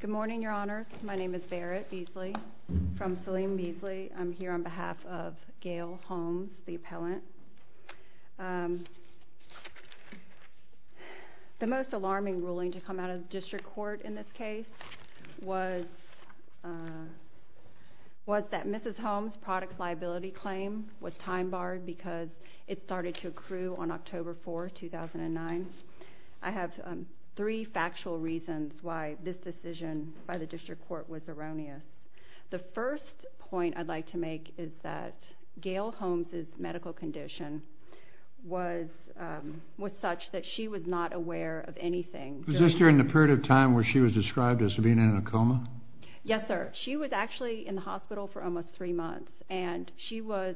Good morning, Your Honors. My name is Barrett Beasley from Salim Beasley. I'm here on behalf of Gail Holmes, the appellant. The most alarming ruling to come out of the district court in this case was that Mrs. Holmes' product liability claim was time-barred because it started to accrue on the day of the incident. The first point I'd like to make is that Gail Holmes' medical condition was such that she was not aware of anything. Was this during the period of time where she was described as being in a coma? Yes, sir. She was actually in the hospital for almost three months and she was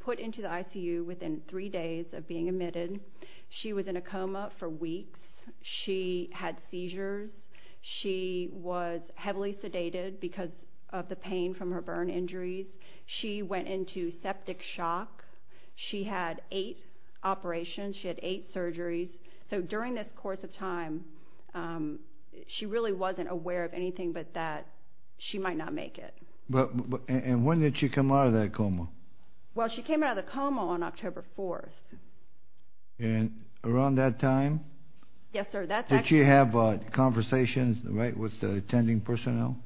put into the ICU within three days of being discharged. She was heavily sedated because of the pain from her burn injuries. She went into septic shock. She had eight operations. She had eight surgeries. So during this course of time, she really wasn't aware of anything but that she might not make it. And when did she come out of that coma? Well, she came out of the coma on October 4th. And around that time? Yes, sir. Did she have conversations with the attending personnel?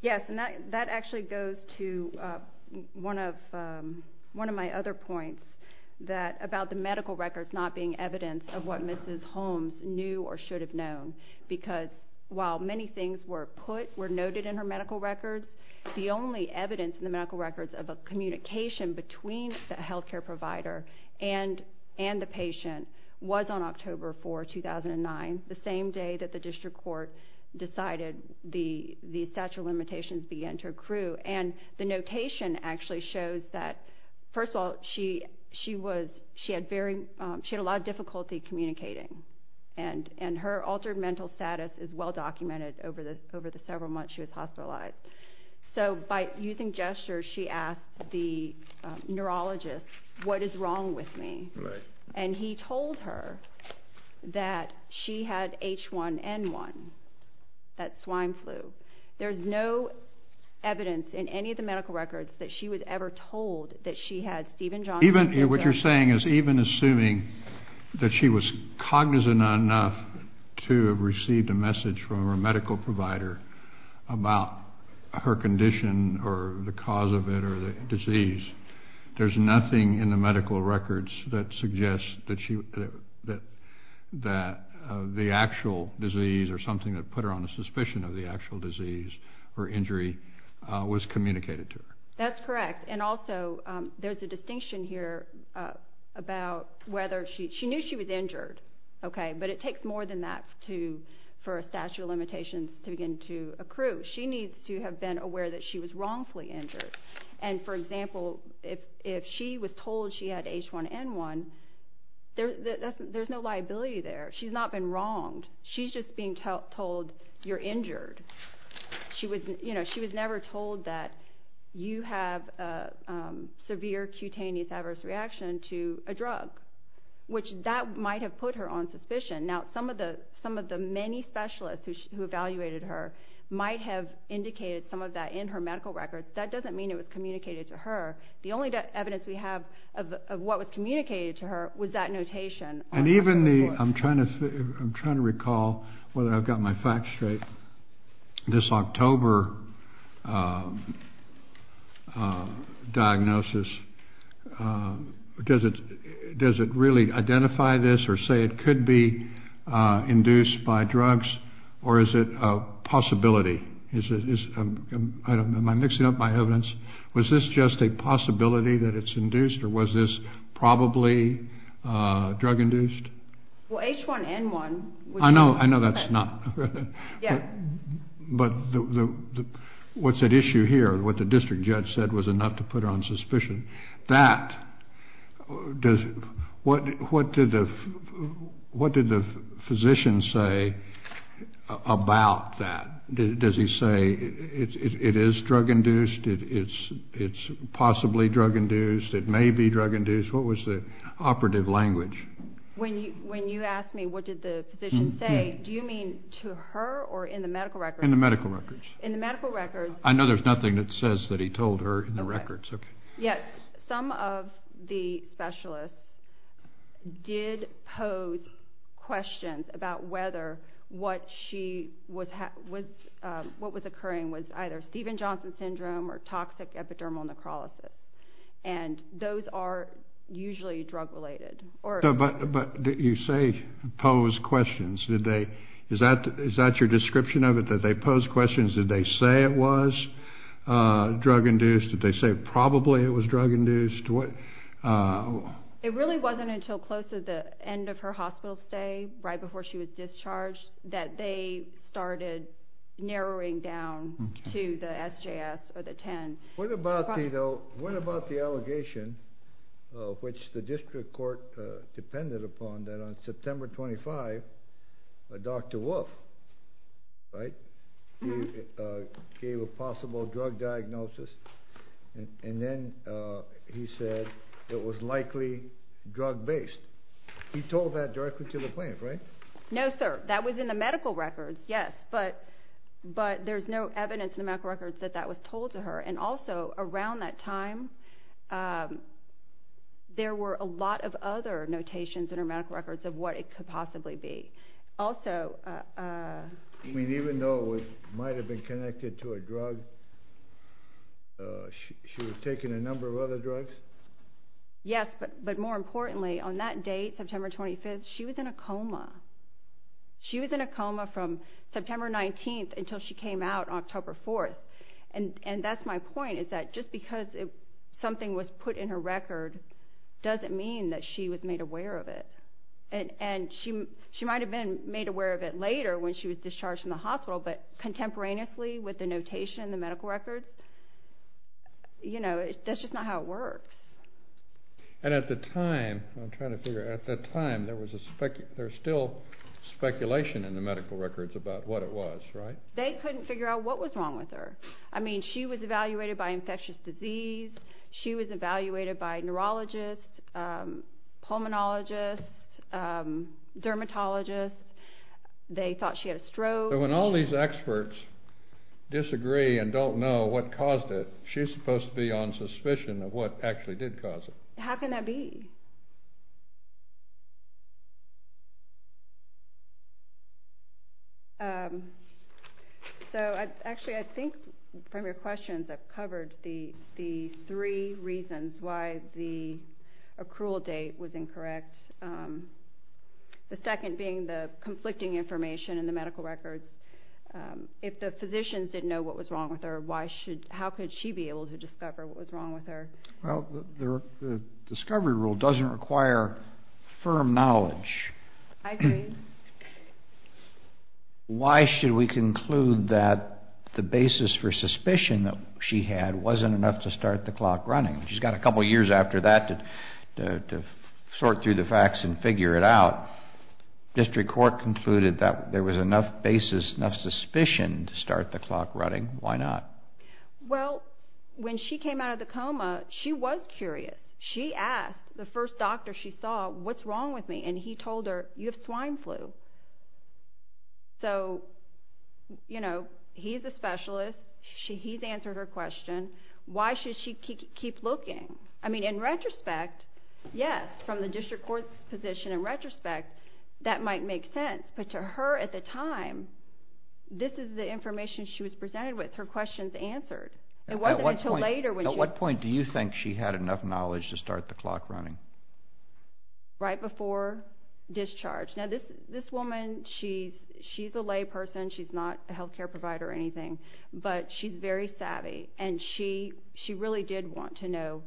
Yes. And that actually goes to one of my other points about the medical records not being evidence of what Mrs. Holmes knew or should have known. Because while many things were noted in her medical records, the only evidence in the medical records of a communication between the health care provider and the patient was on October 4th, 2009, the same day that the district court decided the statute of limitations began to accrue. And the notation actually shows that, first of all, she had a lot of difficulty communicating. And her altered mental status is well documented over the several months she was hospitalized. So by using gestures, she asked the neurologist, what is wrong with me? And he told her that she had H1N1, that swine flu. There's no evidence in any of the medical records that she was ever told that she had Stephen Johnson syndrome. Even what you're saying is even assuming that she was cognizant enough to have received a message from her medical provider about her condition or the cause of it or the disease, there's nothing in the medical records that suggests that the actual disease or something that put her on the suspicion of the actual disease or injury was communicated to her. That's correct. And also there's a distinction here about whether she knew she was injured. But it takes more than that for a statute of limitations to begin to accrue. She needs to have been aware that she was wrongfully injured. And for example, if she was told she had H1N1, there's no liability there. She's not been wronged. She's just being told you're injured. She was never told that you have a severe cutaneous adverse reaction to a drug, which that might have put her on suspicion. Now, some of the many specialists who evaluated her might have indicated some of that in her medical records. That doesn't mean it was communicated to her. The only evidence we have of what was communicated to her was that notation. And even the, I'm trying to recall whether I've got my facts straight, this October diagnosis, does it really identify this or say it could be induced by drugs, or is it a possibility? Am I mixing up my evidence? Was this just a possibility that it's induced, or was this probably drug-induced? Well, H1N1... I know that's not. But what's at issue here, what the district what did the physician say about that? Does he say it is drug-induced, it's possibly drug-induced, it may be drug-induced? What was the operative language? When you ask me what did the physician say, do you mean to her or in the medical records? In the medical records. In the medical records. I know there's nothing that says that he told her in the records. Some of the specialists did pose questions about whether what was occurring was either Stevens-Johnson syndrome or toxic epidermal necrolysis. And those are usually drug-related. But you say posed questions. Is that your description of it, that they say it was drug-induced, that they say probably it was drug-induced? It really wasn't until close to the end of her hospital stay, right before she was discharged, that they started narrowing down to the SJS or the 10. What about the allegation, which the district court depended upon, that on September 25, Dr. Wolf, right, gave a possible drug diagnosis. And then he said it was likely drug-based. He told that directly to the plaintiff, right? No, sir. That was in the medical records, yes. But there's no evidence in the medical records that that was told to her. And also around that time, there were a lot of other notations in her medical records of what it could possibly be. I mean, even though it might have been connected to a drug, she was taking a number of other drugs? Yes. But more importantly, on that date, September 25, she was in a coma. She was in a coma from September 19 until she came out October 4. And that's my point, is that just because something was put in her and she might have been made aware of it later when she was discharged from the hospital, but contemporaneously with the notation in the medical records, you know, that's just not how it works. And at the time, I'm trying to figure out, at the time, there was a speculation, there's still speculation in the medical records about what it was, right? They couldn't figure out what was wrong with her. I mean, she was evaluated by infectious disease. She was evaluated by neurologists, pulmonologists, dermatologists. They thought she had a stroke. But when all these experts disagree and don't know what caused it, she's supposed to be on suspicion of what actually did cause it. How can that be? So, actually, I think from your questions, I've covered the three reasons why the accrual date was incorrect. The second being the conflicting information in the medical records. If the physicians didn't know what was wrong with her, how could she be able to discover what was wrong with her? Well, the discovery rule doesn't require firm knowledge. I agree. Why should we conclude that the basis for suspicion that she had wasn't enough to start the clock running? She's got a couple years after that to sort through the facts and figure it out. District Court concluded that there was enough basis, enough suspicion to start the clock running. Why not? Well, when she came out of the coma, she was curious. She asked the first doctor she saw, what's wrong with me? And he told her, you have swine flu. So, you know, he's a specialist. He's answered her question. Why should she keep looking? I mean, in retrospect, yes, from the District Court's position, in retrospect, that might make sense. But to her at the time, this is the information she was presented with, her questions answered. At what point do you think she had enough knowledge to start the clock running? Right before discharge. Now, this woman, she's a lay person. She's not a health care provider or anything. But she's very savvy. And she really did want to know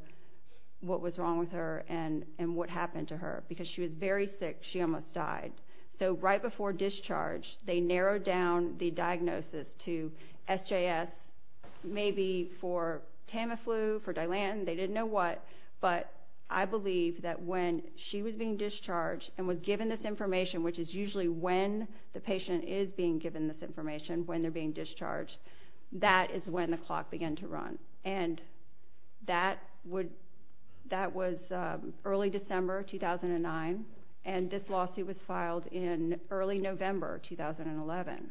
what was wrong with her and what happened to her because she was very sick. She almost died. So right before discharge, they narrowed down the diagnosis to SJS, maybe for Tamiflu, for Dilantin. They didn't know what. But I believe that when she was being discharged and was given this information, which is usually when the patient is being given this information, when they're being discharged, that is when the clock began to run. And that was early December 2009. And this lawsuit was filed in early November 2011.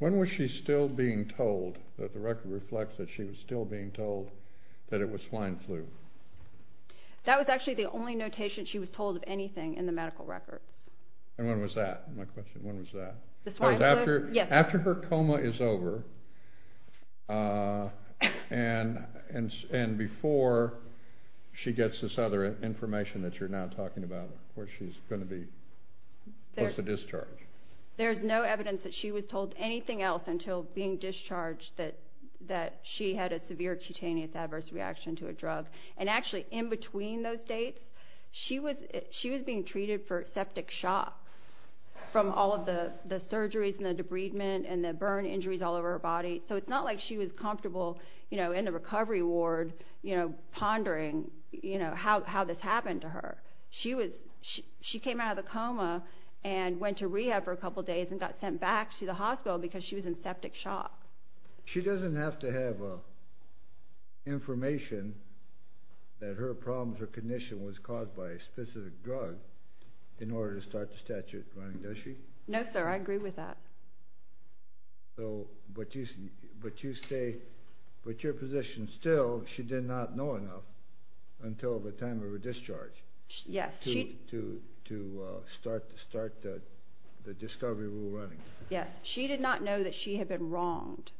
When was she still being told that the record reflects that she was still being told that it was swine flu? That was actually the only notation she was told of anything in the medical records. And when was that, my question? When was that? After her coma is over and before she gets this other information that you're now talking about where she's going to be close to discharge. There's no evidence that she was told anything else until being And actually in between those dates, she was being treated for septic shock from all of the surgeries and the debridement and the burn injuries all over her body. So it's not like she was comfortable in the recovery ward pondering how this happened to her. She came out of the coma and went to rehab for a couple days and got sent back to the hospital because she was in septic shock. She doesn't have to have information that her problems or condition was caused by a specific drug in order to start the statute running, does she? No, sir. I agree with that. But your position still, she did not know enough until the time of her discharge to start the discovery rule running. She did not know that she had been wronged.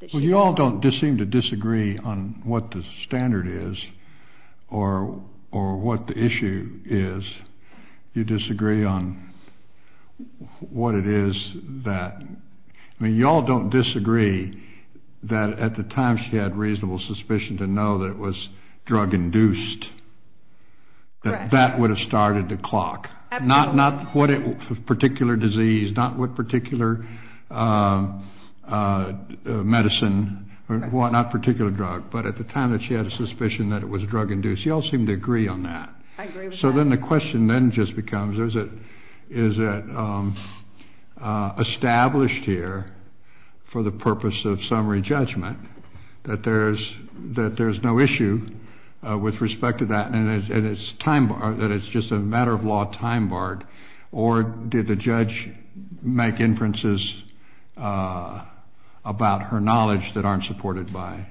You all don't seem to disagree on what the standard is or what the issue is. You disagree on what it is that, I mean, you all don't disagree that at the time she had reasonable suspicion to know that it was drug induced, that that would have started the clock. Absolutely. Not what particular disease, not what particular medicine or whatnot, particular drug, but at the time that she had a suspicion that it was drug induced, you all seem to agree on that. I agree with that. So then the question then just becomes is it established here for the purpose of summary judgment that there's no issue with respect to that and it's just a matter of law time barred, or did the judge make inferences about her knowledge that aren't supported by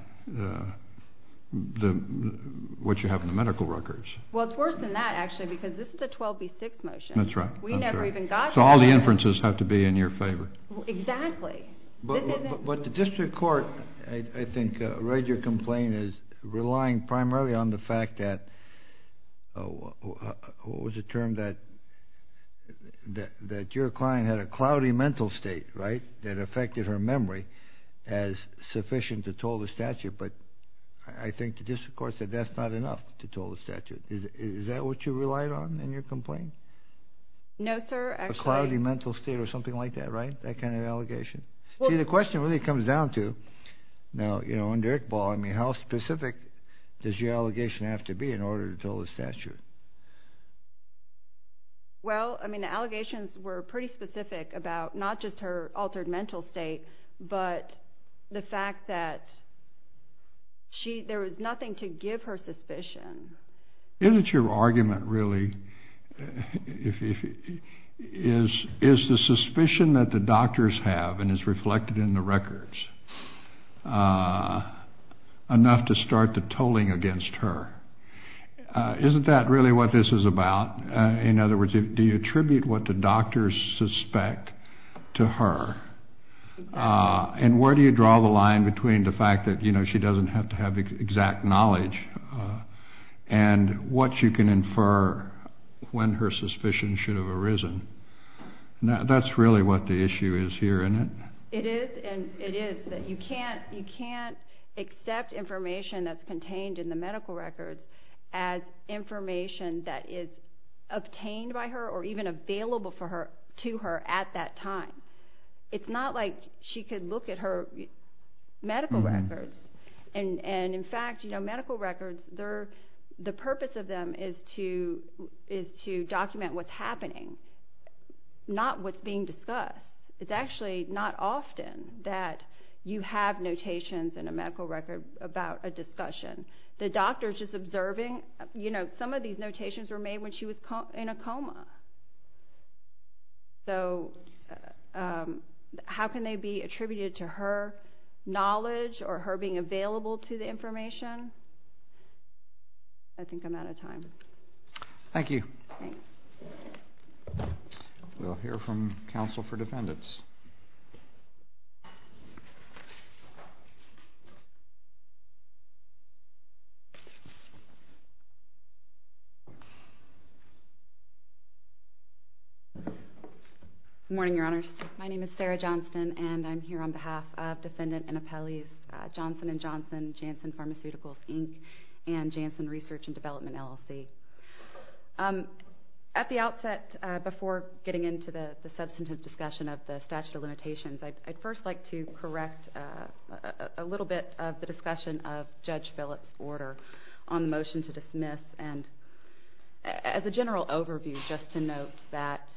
what you have in the medical records? Well, it's worse than that, actually, because this is a 12B6 motion. That's right. We never even got to that. So all the inferences have to be in your favor. Exactly. But the district court, I think, read your complaint as relying primarily on the fact that, what was the term, that your client had a cloudy mental state, right, that affected her memory as sufficient to toll the statute. But I think the district court said that's not enough to toll the statute. Is that what you relied on in your complaint? No, sir. A cloudy mental state or something like that, right, that kind of allegation? See, the question really comes down to, now, under Iqbal, I mean, how specific does your allegation have to be in order to toll the statute? Well, I mean, the allegations were pretty specific about not just her altered mental state, but the fact that there was nothing to give her suspicion. Isn't your argument really, is the suspicion that the doctors have, and it's reflected in the records, enough to start the tolling against her? Isn't that really what this is about? In other words, do you attribute what the doctors suspect to her? And where do you draw the line between the fact that she doesn't have to have exact knowledge and what you can infer when her suspicion should have arisen? That's really what the issue is here, isn't it? It is, and it is, that you can't accept information that's contained in the medical records as information that is obtained by her or even available to her at that time. It's not like she could look at her medical records. And, in fact, medical records, the purpose of them is to document what's happening, not what's being discussed. It's actually not often that you have notations in a medical record about a discussion. The doctor is just observing. Some of these notations were made when she was in a coma. So how can they be attributed to her knowledge or her being available to the information? I think I'm out of time. Thank you. We'll hear from counsel for defendants. Good morning, Your Honors. My name is Sarah Johnston, and I'm here on behalf of Defendant Annapelle Johnson & Johnson, Janssen Pharmaceuticals, Inc., and Janssen Research and Development, LLC. At the outset, before getting into the substantive discussion of the statute of limitations, I'd first like to correct a little bit of the discussion of Judge Phillips' order on the motion to dismiss. And as a general overview, just to note that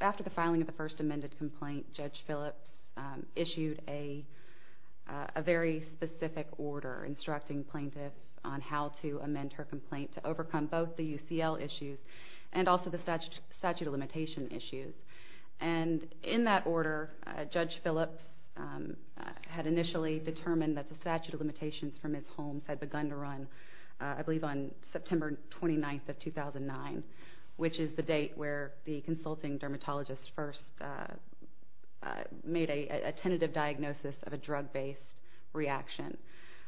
after the filing of the first amended complaint, Judge Phillips issued a very specific order instructing plaintiffs on how to amend her complaint to overcome both the UCL issues and also the statute of limitation issues. And in that order, Judge Phillips had initially determined that the statute of limitations for Ms. Holmes had begun to run, I believe, on September 29th of 2009, which is the date where the consulting dermatologist first made a tentative diagnosis of a drug-based reaction.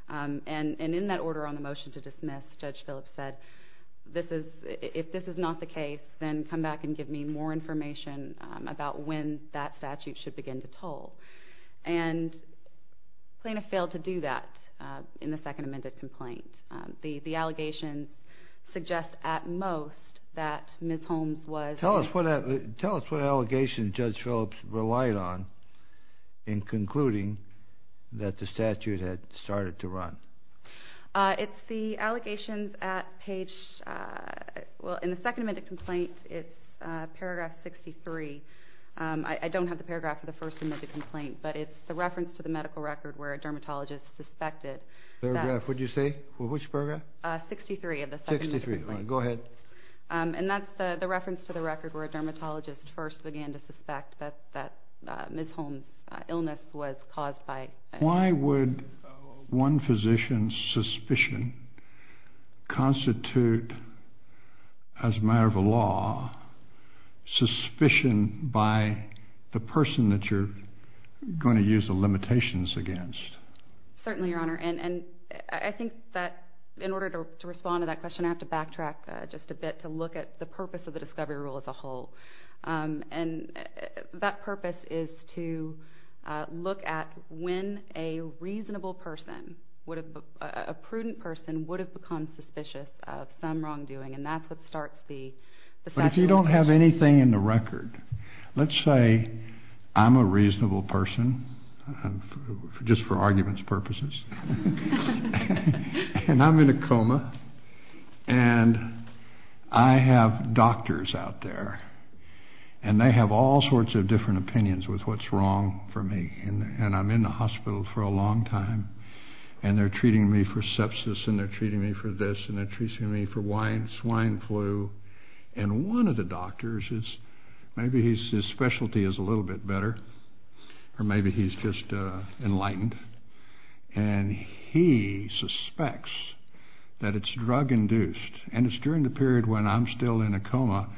And in that order on the motion to dismiss, Judge Phillips said, if this is not the case, then come back and give me more information about when that statute should begin to toll. And plaintiffs failed to do that in the second amended complaint. The allegations suggest at most that Ms. Holmes was- Tell us what allegations Judge Phillips relied on in concluding that the statute had started to run. It's the allegations at page- well, in the second amended complaint, it's paragraph 63. I don't have the paragraph for the first amended complaint, but it's the reference to the medical record where a dermatologist suspected that- Which paragraph would you say? Which paragraph? 63 of the second amended complaint. 63. All right. Go ahead. And that's the reference to the record where a dermatologist first began to suspect that Ms. Holmes' illness was caused by- Why would one physician's suspicion constitute, as a matter of law, suspicion by the person that you're going to use the limitations against? Certainly, Your Honor. And I think that in order to respond to that question, I have to backtrack just a bit to look at the purpose of the discovery rule as a whole. And that purpose is to look at when a reasonable person would have- a prudent person would have become suspicious of some wrongdoing, and that's what starts the- But if you don't have anything in the record, let's say I'm a reasonable person, just for arguments purposes, and I'm in a coma, and I have doctors out there, and they have all sorts of different opinions with what's wrong for me, and I'm in the hospital for a long time, and they're treating me for sepsis, and they're treating me for this, and they're treating me for swine flu, and one of the doctors is-maybe his specialty is a little bit better, or maybe he's just enlightened, and he suspects that it's drug-induced, and it's during the period when I'm still in a coma.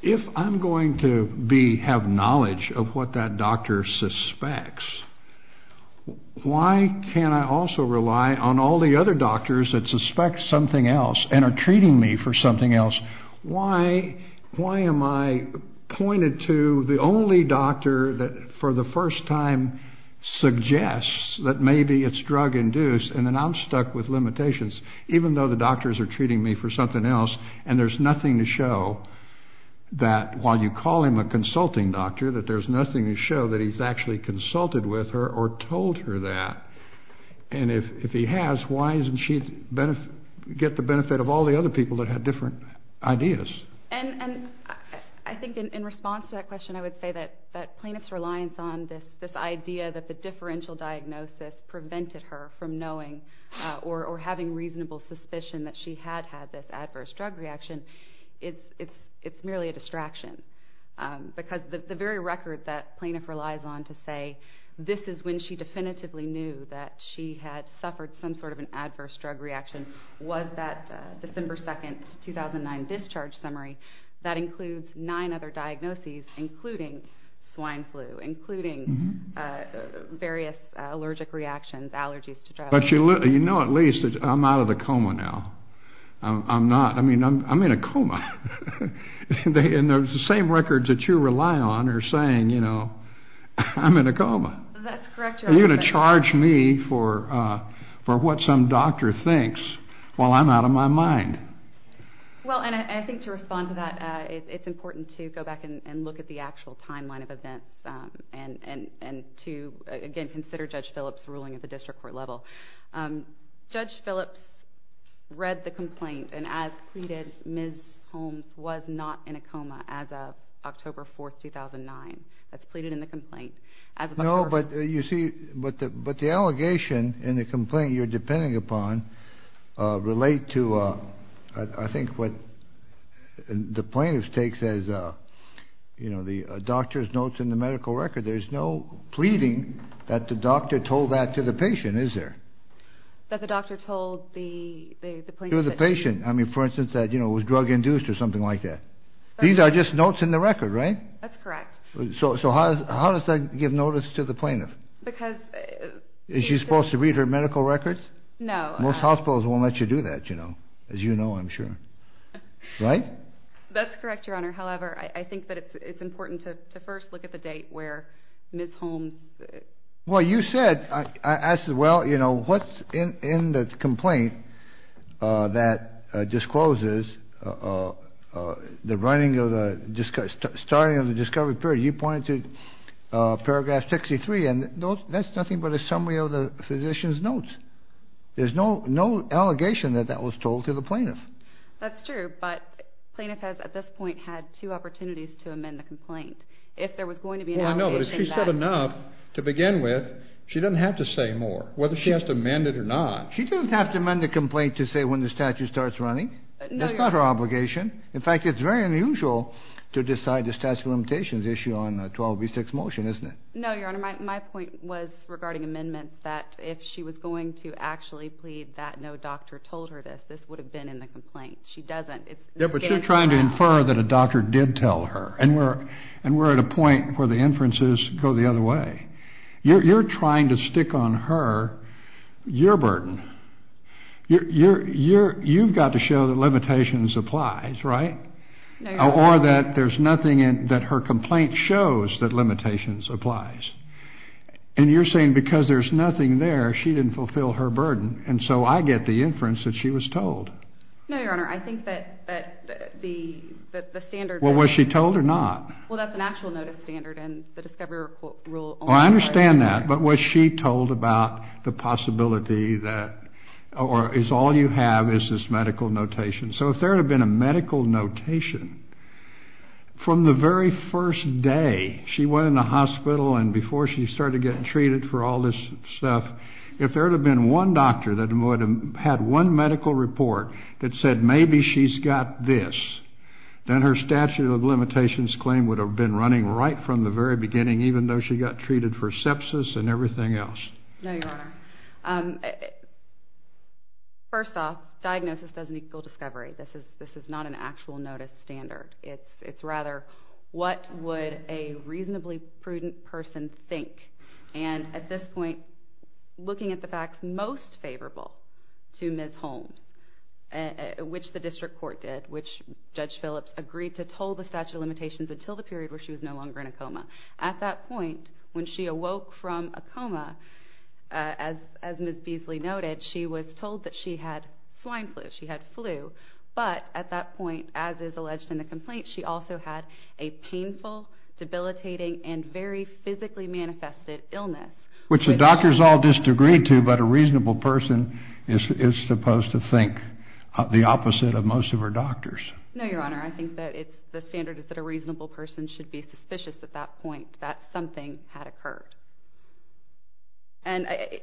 If I'm going to have knowledge of what that doctor suspects, why can't I also rely on all the other doctors that suspect something else and are treating me for something else? Why am I pointed to the only doctor that for the first time suggests that maybe it's drug-induced, and then I'm stuck with limitations, even though the doctors are treating me for something else, and there's nothing to show that while you call him a consulting doctor, that there's nothing to show that he's actually consulted with her or told her that. And if he has, why doesn't she get the benefit of all the other people that had different ideas? And I think in response to that question, I would say that plaintiff's reliance on this idea that the differential diagnosis prevented her from knowing or having reasonable suspicion that she had had this adverse drug reaction, it's merely a distraction, because the very record that plaintiff relies on to say this is when she definitively knew that she had suffered some sort of an adverse drug reaction was that December 2, 2009 discharge summary. That includes nine other diagnoses, including swine flu, including various allergic reactions, allergies to drugs. But you know at least that I'm out of the coma now. I'm not. I mean, I'm in a coma. And the same records that you rely on are saying, you know, I'm in a coma. That's correct, Your Honor. Are you going to charge me for what some doctor thinks while I'm out of my mind? Well, and I think to respond to that, it's important to go back and look at the actual timeline of events and to, again, consider Judge Phillips' ruling at the district court level. Judge Phillips read the complaint and, as pleaded, Ms. Holmes was not in a coma as of October 4, 2009. That's pleaded in the complaint. No, but you see, but the allegation in the complaint you're depending upon relate to, I think, what the plaintiff takes as, you know, the doctor's notes in the medical record. There's no pleading that the doctor told that to the patient, is there? That the doctor told the plaintiff. To the patient. I mean, for instance, that, you know, it was drug-induced or something like that. These are just notes in the record, right? That's correct. So how does that give notice to the plaintiff? Because... Is she supposed to read her medical records? No. Most hospitals won't let you do that, you know, as you know, I'm sure. Right? That's correct, Your Honor. However, I think that it's important to first look at the date where Ms. Holmes... Well, you said, I asked, well, you know, what's in the complaint that discloses the running of the, starting of the discovery period, you pointed to Paragraph 63, and that's nothing but a summary of the physician's notes. There's no allegation that that was told to the plaintiff. That's true, but the plaintiff has, at this point, had two opportunities to amend the complaint. If there was going to be an allegation that... Well, I know, but if she said enough to begin with, she doesn't have to say more, whether she has to amend it or not. She doesn't have to amend the complaint to say when the statute starts running. That's not her obligation. In fact, it's very unusual to decide the statute of limitations issue on a 12B6 motion, isn't it? No, Your Honor. My point was regarding amendments that if she was going to actually plead that no doctor told her this, this would have been in the complaint. She doesn't. Yeah, but you're trying to infer that a doctor did tell her, and we're at a point where the inferences go the other way. You're trying to stick on her your burden. You've got to show that limitations applies, right? No, Your Honor. Or that there's nothing in that her complaint shows that limitations applies. And you're saying because there's nothing there, she didn't fulfill her burden, and so I get the inference that she was told. No, Your Honor. I think that the standard... Well, was she told or not? Well, that's an actual notice standard, and the discovery rule... Well, I understand that, but was she told about the possibility that all you have is this medical notation? So if there had been a medical notation from the very first day she went in the hospital and before she started getting treated for all this stuff, if there had been one doctor that had one medical report that said maybe she's got this, then her statute of limitations claim would have been running right from the very beginning, even though she got treated for sepsis and everything else. No, Your Honor. First off, diagnosis doesn't equal discovery. This is not an actual notice standard. It's rather what would a reasonably prudent person think. And at this point, looking at the facts most favorable to Ms. Holm, which the district court did, which Judge Phillips agreed to toll the statute of limitations until the period where she was no longer in a coma. At that point, when she awoke from a coma, as Ms. Beasley noted, she was told that she had swine flu. She had flu. But at that point, as is alleged in the complaint, she also had a painful, debilitating, and very physically manifested illness. Which the doctors all disagreed to, but a reasonable person is supposed to think the opposite of most of her doctors. No, Your Honor. I think that the standard is that a reasonable person should be suspicious at that point that something had occurred.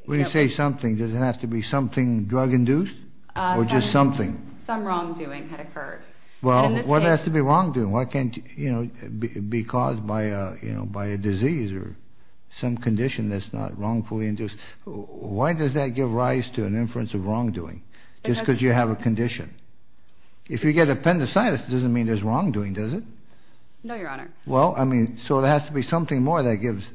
When you say something, does it have to be something drug-induced or just something? Some wrongdoing had occurred. Well, what has to be wrongdoing? Why can't it be caused by a disease or some condition that's not wrongfully induced? Why does that give rise to an inference of wrongdoing? Just because you have a condition. If you get appendicitis, it doesn't mean there's wrongdoing, does it? No, Your Honor. Well, I mean, so there has to be something more that gives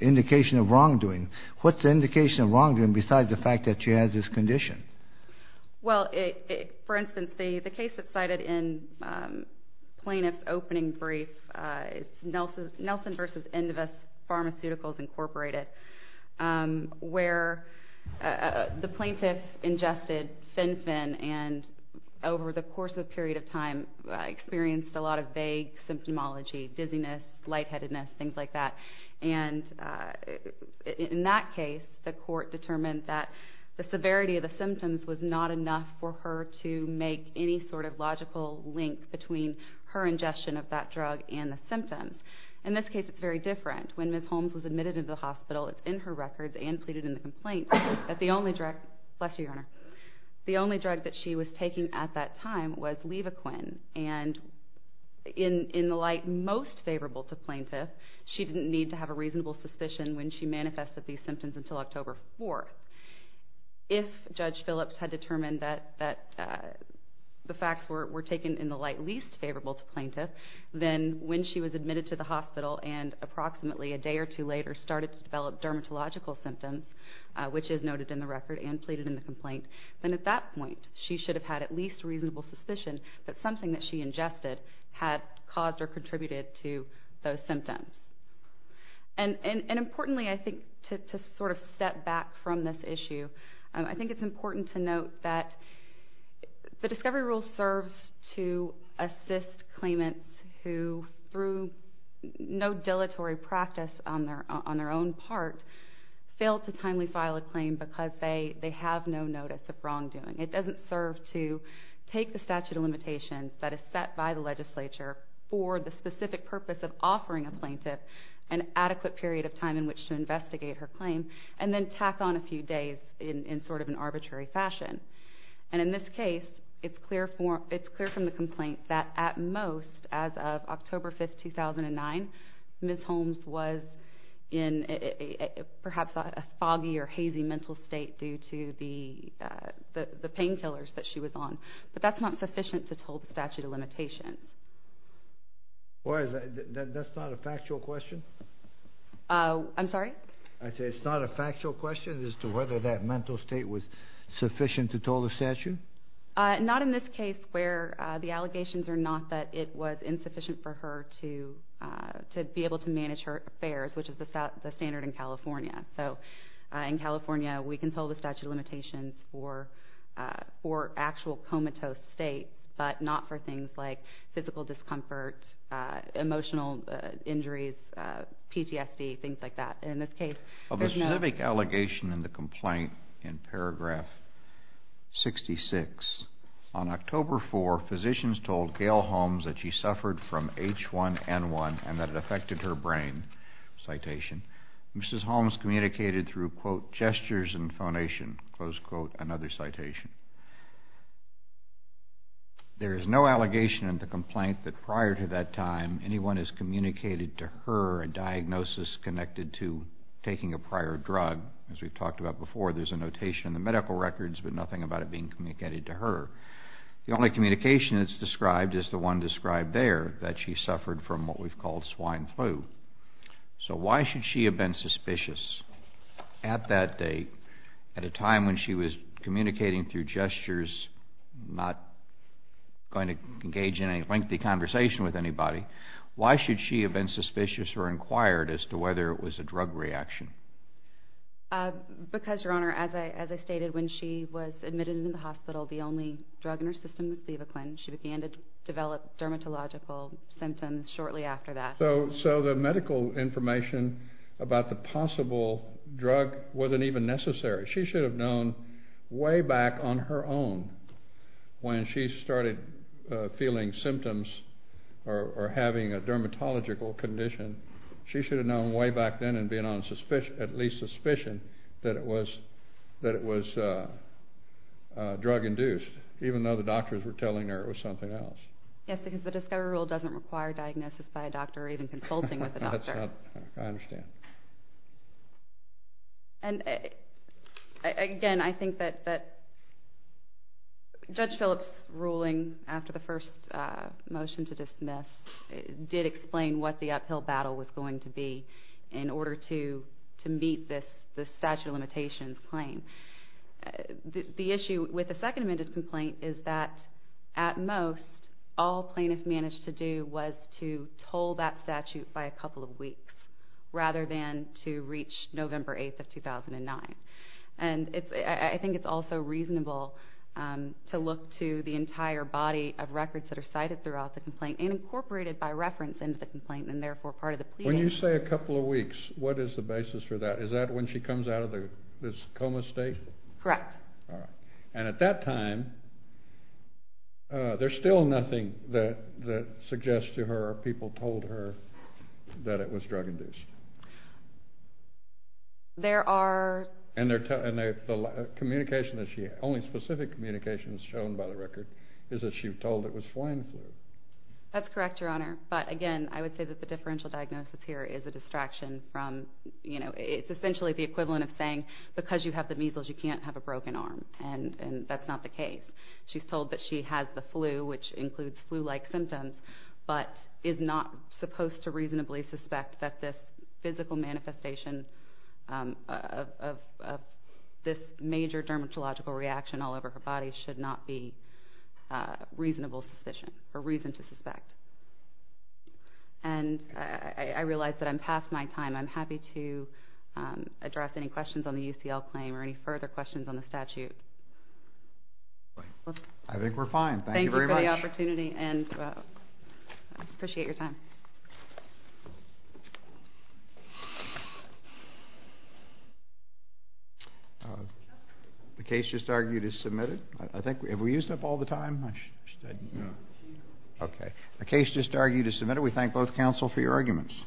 indication of wrongdoing. What's the indication of wrongdoing besides the fact that she has this condition? Well, for instance, the case that's cited in plaintiff's opening brief, it's Nelson v. Endavis Pharmaceuticals, Incorporated, where the plaintiff ingested Fin-Fin and over the course of a period of time experienced a lot of vague symptomology, dizziness, lightheadedness, things like that. And in that case, the court determined that the severity of the symptoms was not enough for her to make any sort of logical link between her ingestion of that drug and the symptoms. In this case, it's very different. When Ms. Holmes was admitted into the hospital, it's in her records and pleaded in the complaint that the only drug that she was taking at that time was Levaquin. And in the light most favorable to plaintiff, she didn't need to have a reasonable suspicion when she manifested these symptoms until October 4th. If Judge Phillips had determined that the facts were taken in the light least favorable to plaintiff, then when she was admitted to the hospital and approximately a day or two later started to develop dermatological symptoms, which is noted in the record and pleaded in the complaint, then at that point she should have had at least reasonable suspicion that something that she ingested had caused or contributed to those symptoms. And importantly, I think, to sort of step back from this issue, I think it's important to note that the discovery rule serves to assist claimants who, through no dilatory practice on their own part, fail to timely file a claim because they have no notice of wrongdoing. It doesn't serve to take the statute of limitations that is set by the legislature for the specific purpose of offering a plaintiff an adequate period of time in which to investigate her claim and then tack on a few days in sort of an arbitrary fashion. And in this case, it's clear from the complaint that at most, as of October 5th, 2009, Ms. Holmes was in perhaps a foggy or hazy mental state due to the painkillers that she was on. But that's not sufficient to toll the statute of limitations. Why is that? That's not a factual question? I'm sorry? I said it's not a factual question as to whether that mental state was sufficient to toll the statute? Not in this case where the allegations are not that it was insufficient for her to be able to manage her affairs, which is the standard in California. So in California, we can toll the statute of limitations for actual comatose states, but not for things like physical discomfort, emotional injuries, PTSD, things like that. Of a specific allegation in the complaint in paragraph 66, on October 4, physicians told Gail Holmes that she suffered from H1N1 and that it affected her brain, citation. Mrs. Holmes communicated through, quote, gestures and phonation, close quote, another citation. There is no allegation in the complaint that prior to that time, anyone has communicated to her a diagnosis connected to taking a prior drug. As we've talked about before, there's a notation in the medical records, but nothing about it being communicated to her. The only communication that's described is the one described there, that she suffered from what we've called swine flu. So why should she have been suspicious at that date, at a time when she was communicating through gestures, not going to engage in a lengthy conversation with anybody, why should she have been suspicious or inquired as to whether it was a drug reaction? Because, Your Honor, as I stated, when she was admitted into the hospital, the only drug in her system was Levaquin. She began to develop dermatological symptoms shortly after that. So the medical information about the possible drug wasn't even necessary. She should have known way back on her own when she started feeling symptoms or having a dermatological condition. She should have known way back then and being on at least suspicion that it was drug-induced, even though the doctors were telling her it was something else. Yes, because the discovery rule doesn't require diagnosis by a doctor or even consulting with a doctor. I understand. And, again, I think that Judge Phillips' ruling after the first motion to dismiss did explain what the uphill battle was going to be in order to meet this statute of limitations claim. The issue with the second amended complaint is that, at most, all plaintiffs managed to do was to toll that statute by a couple of weeks rather than to reach November 8th of 2009. And I think it's also reasonable to look to the entire body of records that are cited throughout the complaint and incorporated by reference into the complaint and therefore part of the plea. When you say a couple of weeks, what is the basis for that? Is that when she comes out of this coma state? Correct. All right. And at that time, there's still nothing that suggests to her people told her that it was drug-induced? There are. And the only specific communication that's shown by the record is that she was told it was flying flu. That's correct, Your Honor. But, again, I would say that the differential diagnosis here is a distraction from, you know, it's essentially the equivalent of saying because you have the measles, you can't have a broken arm, and that's not the case. She's told that she has the flu, which includes flu-like symptoms, but is not supposed to reasonably suspect that this physical manifestation of this major dermatological reaction all over her body should not be reasonable suspicion or reason to suspect. And I realize that I'm past my time. I'm happy to address any questions on the UCL claim or any further questions on the statute. I think we're fine. Thank you very much. Thank you for the opportunity, and I appreciate your time. The case just argued is submitted. Have we used up all the time? Okay. The case just argued is submitted. We thank both counsel for your arguments.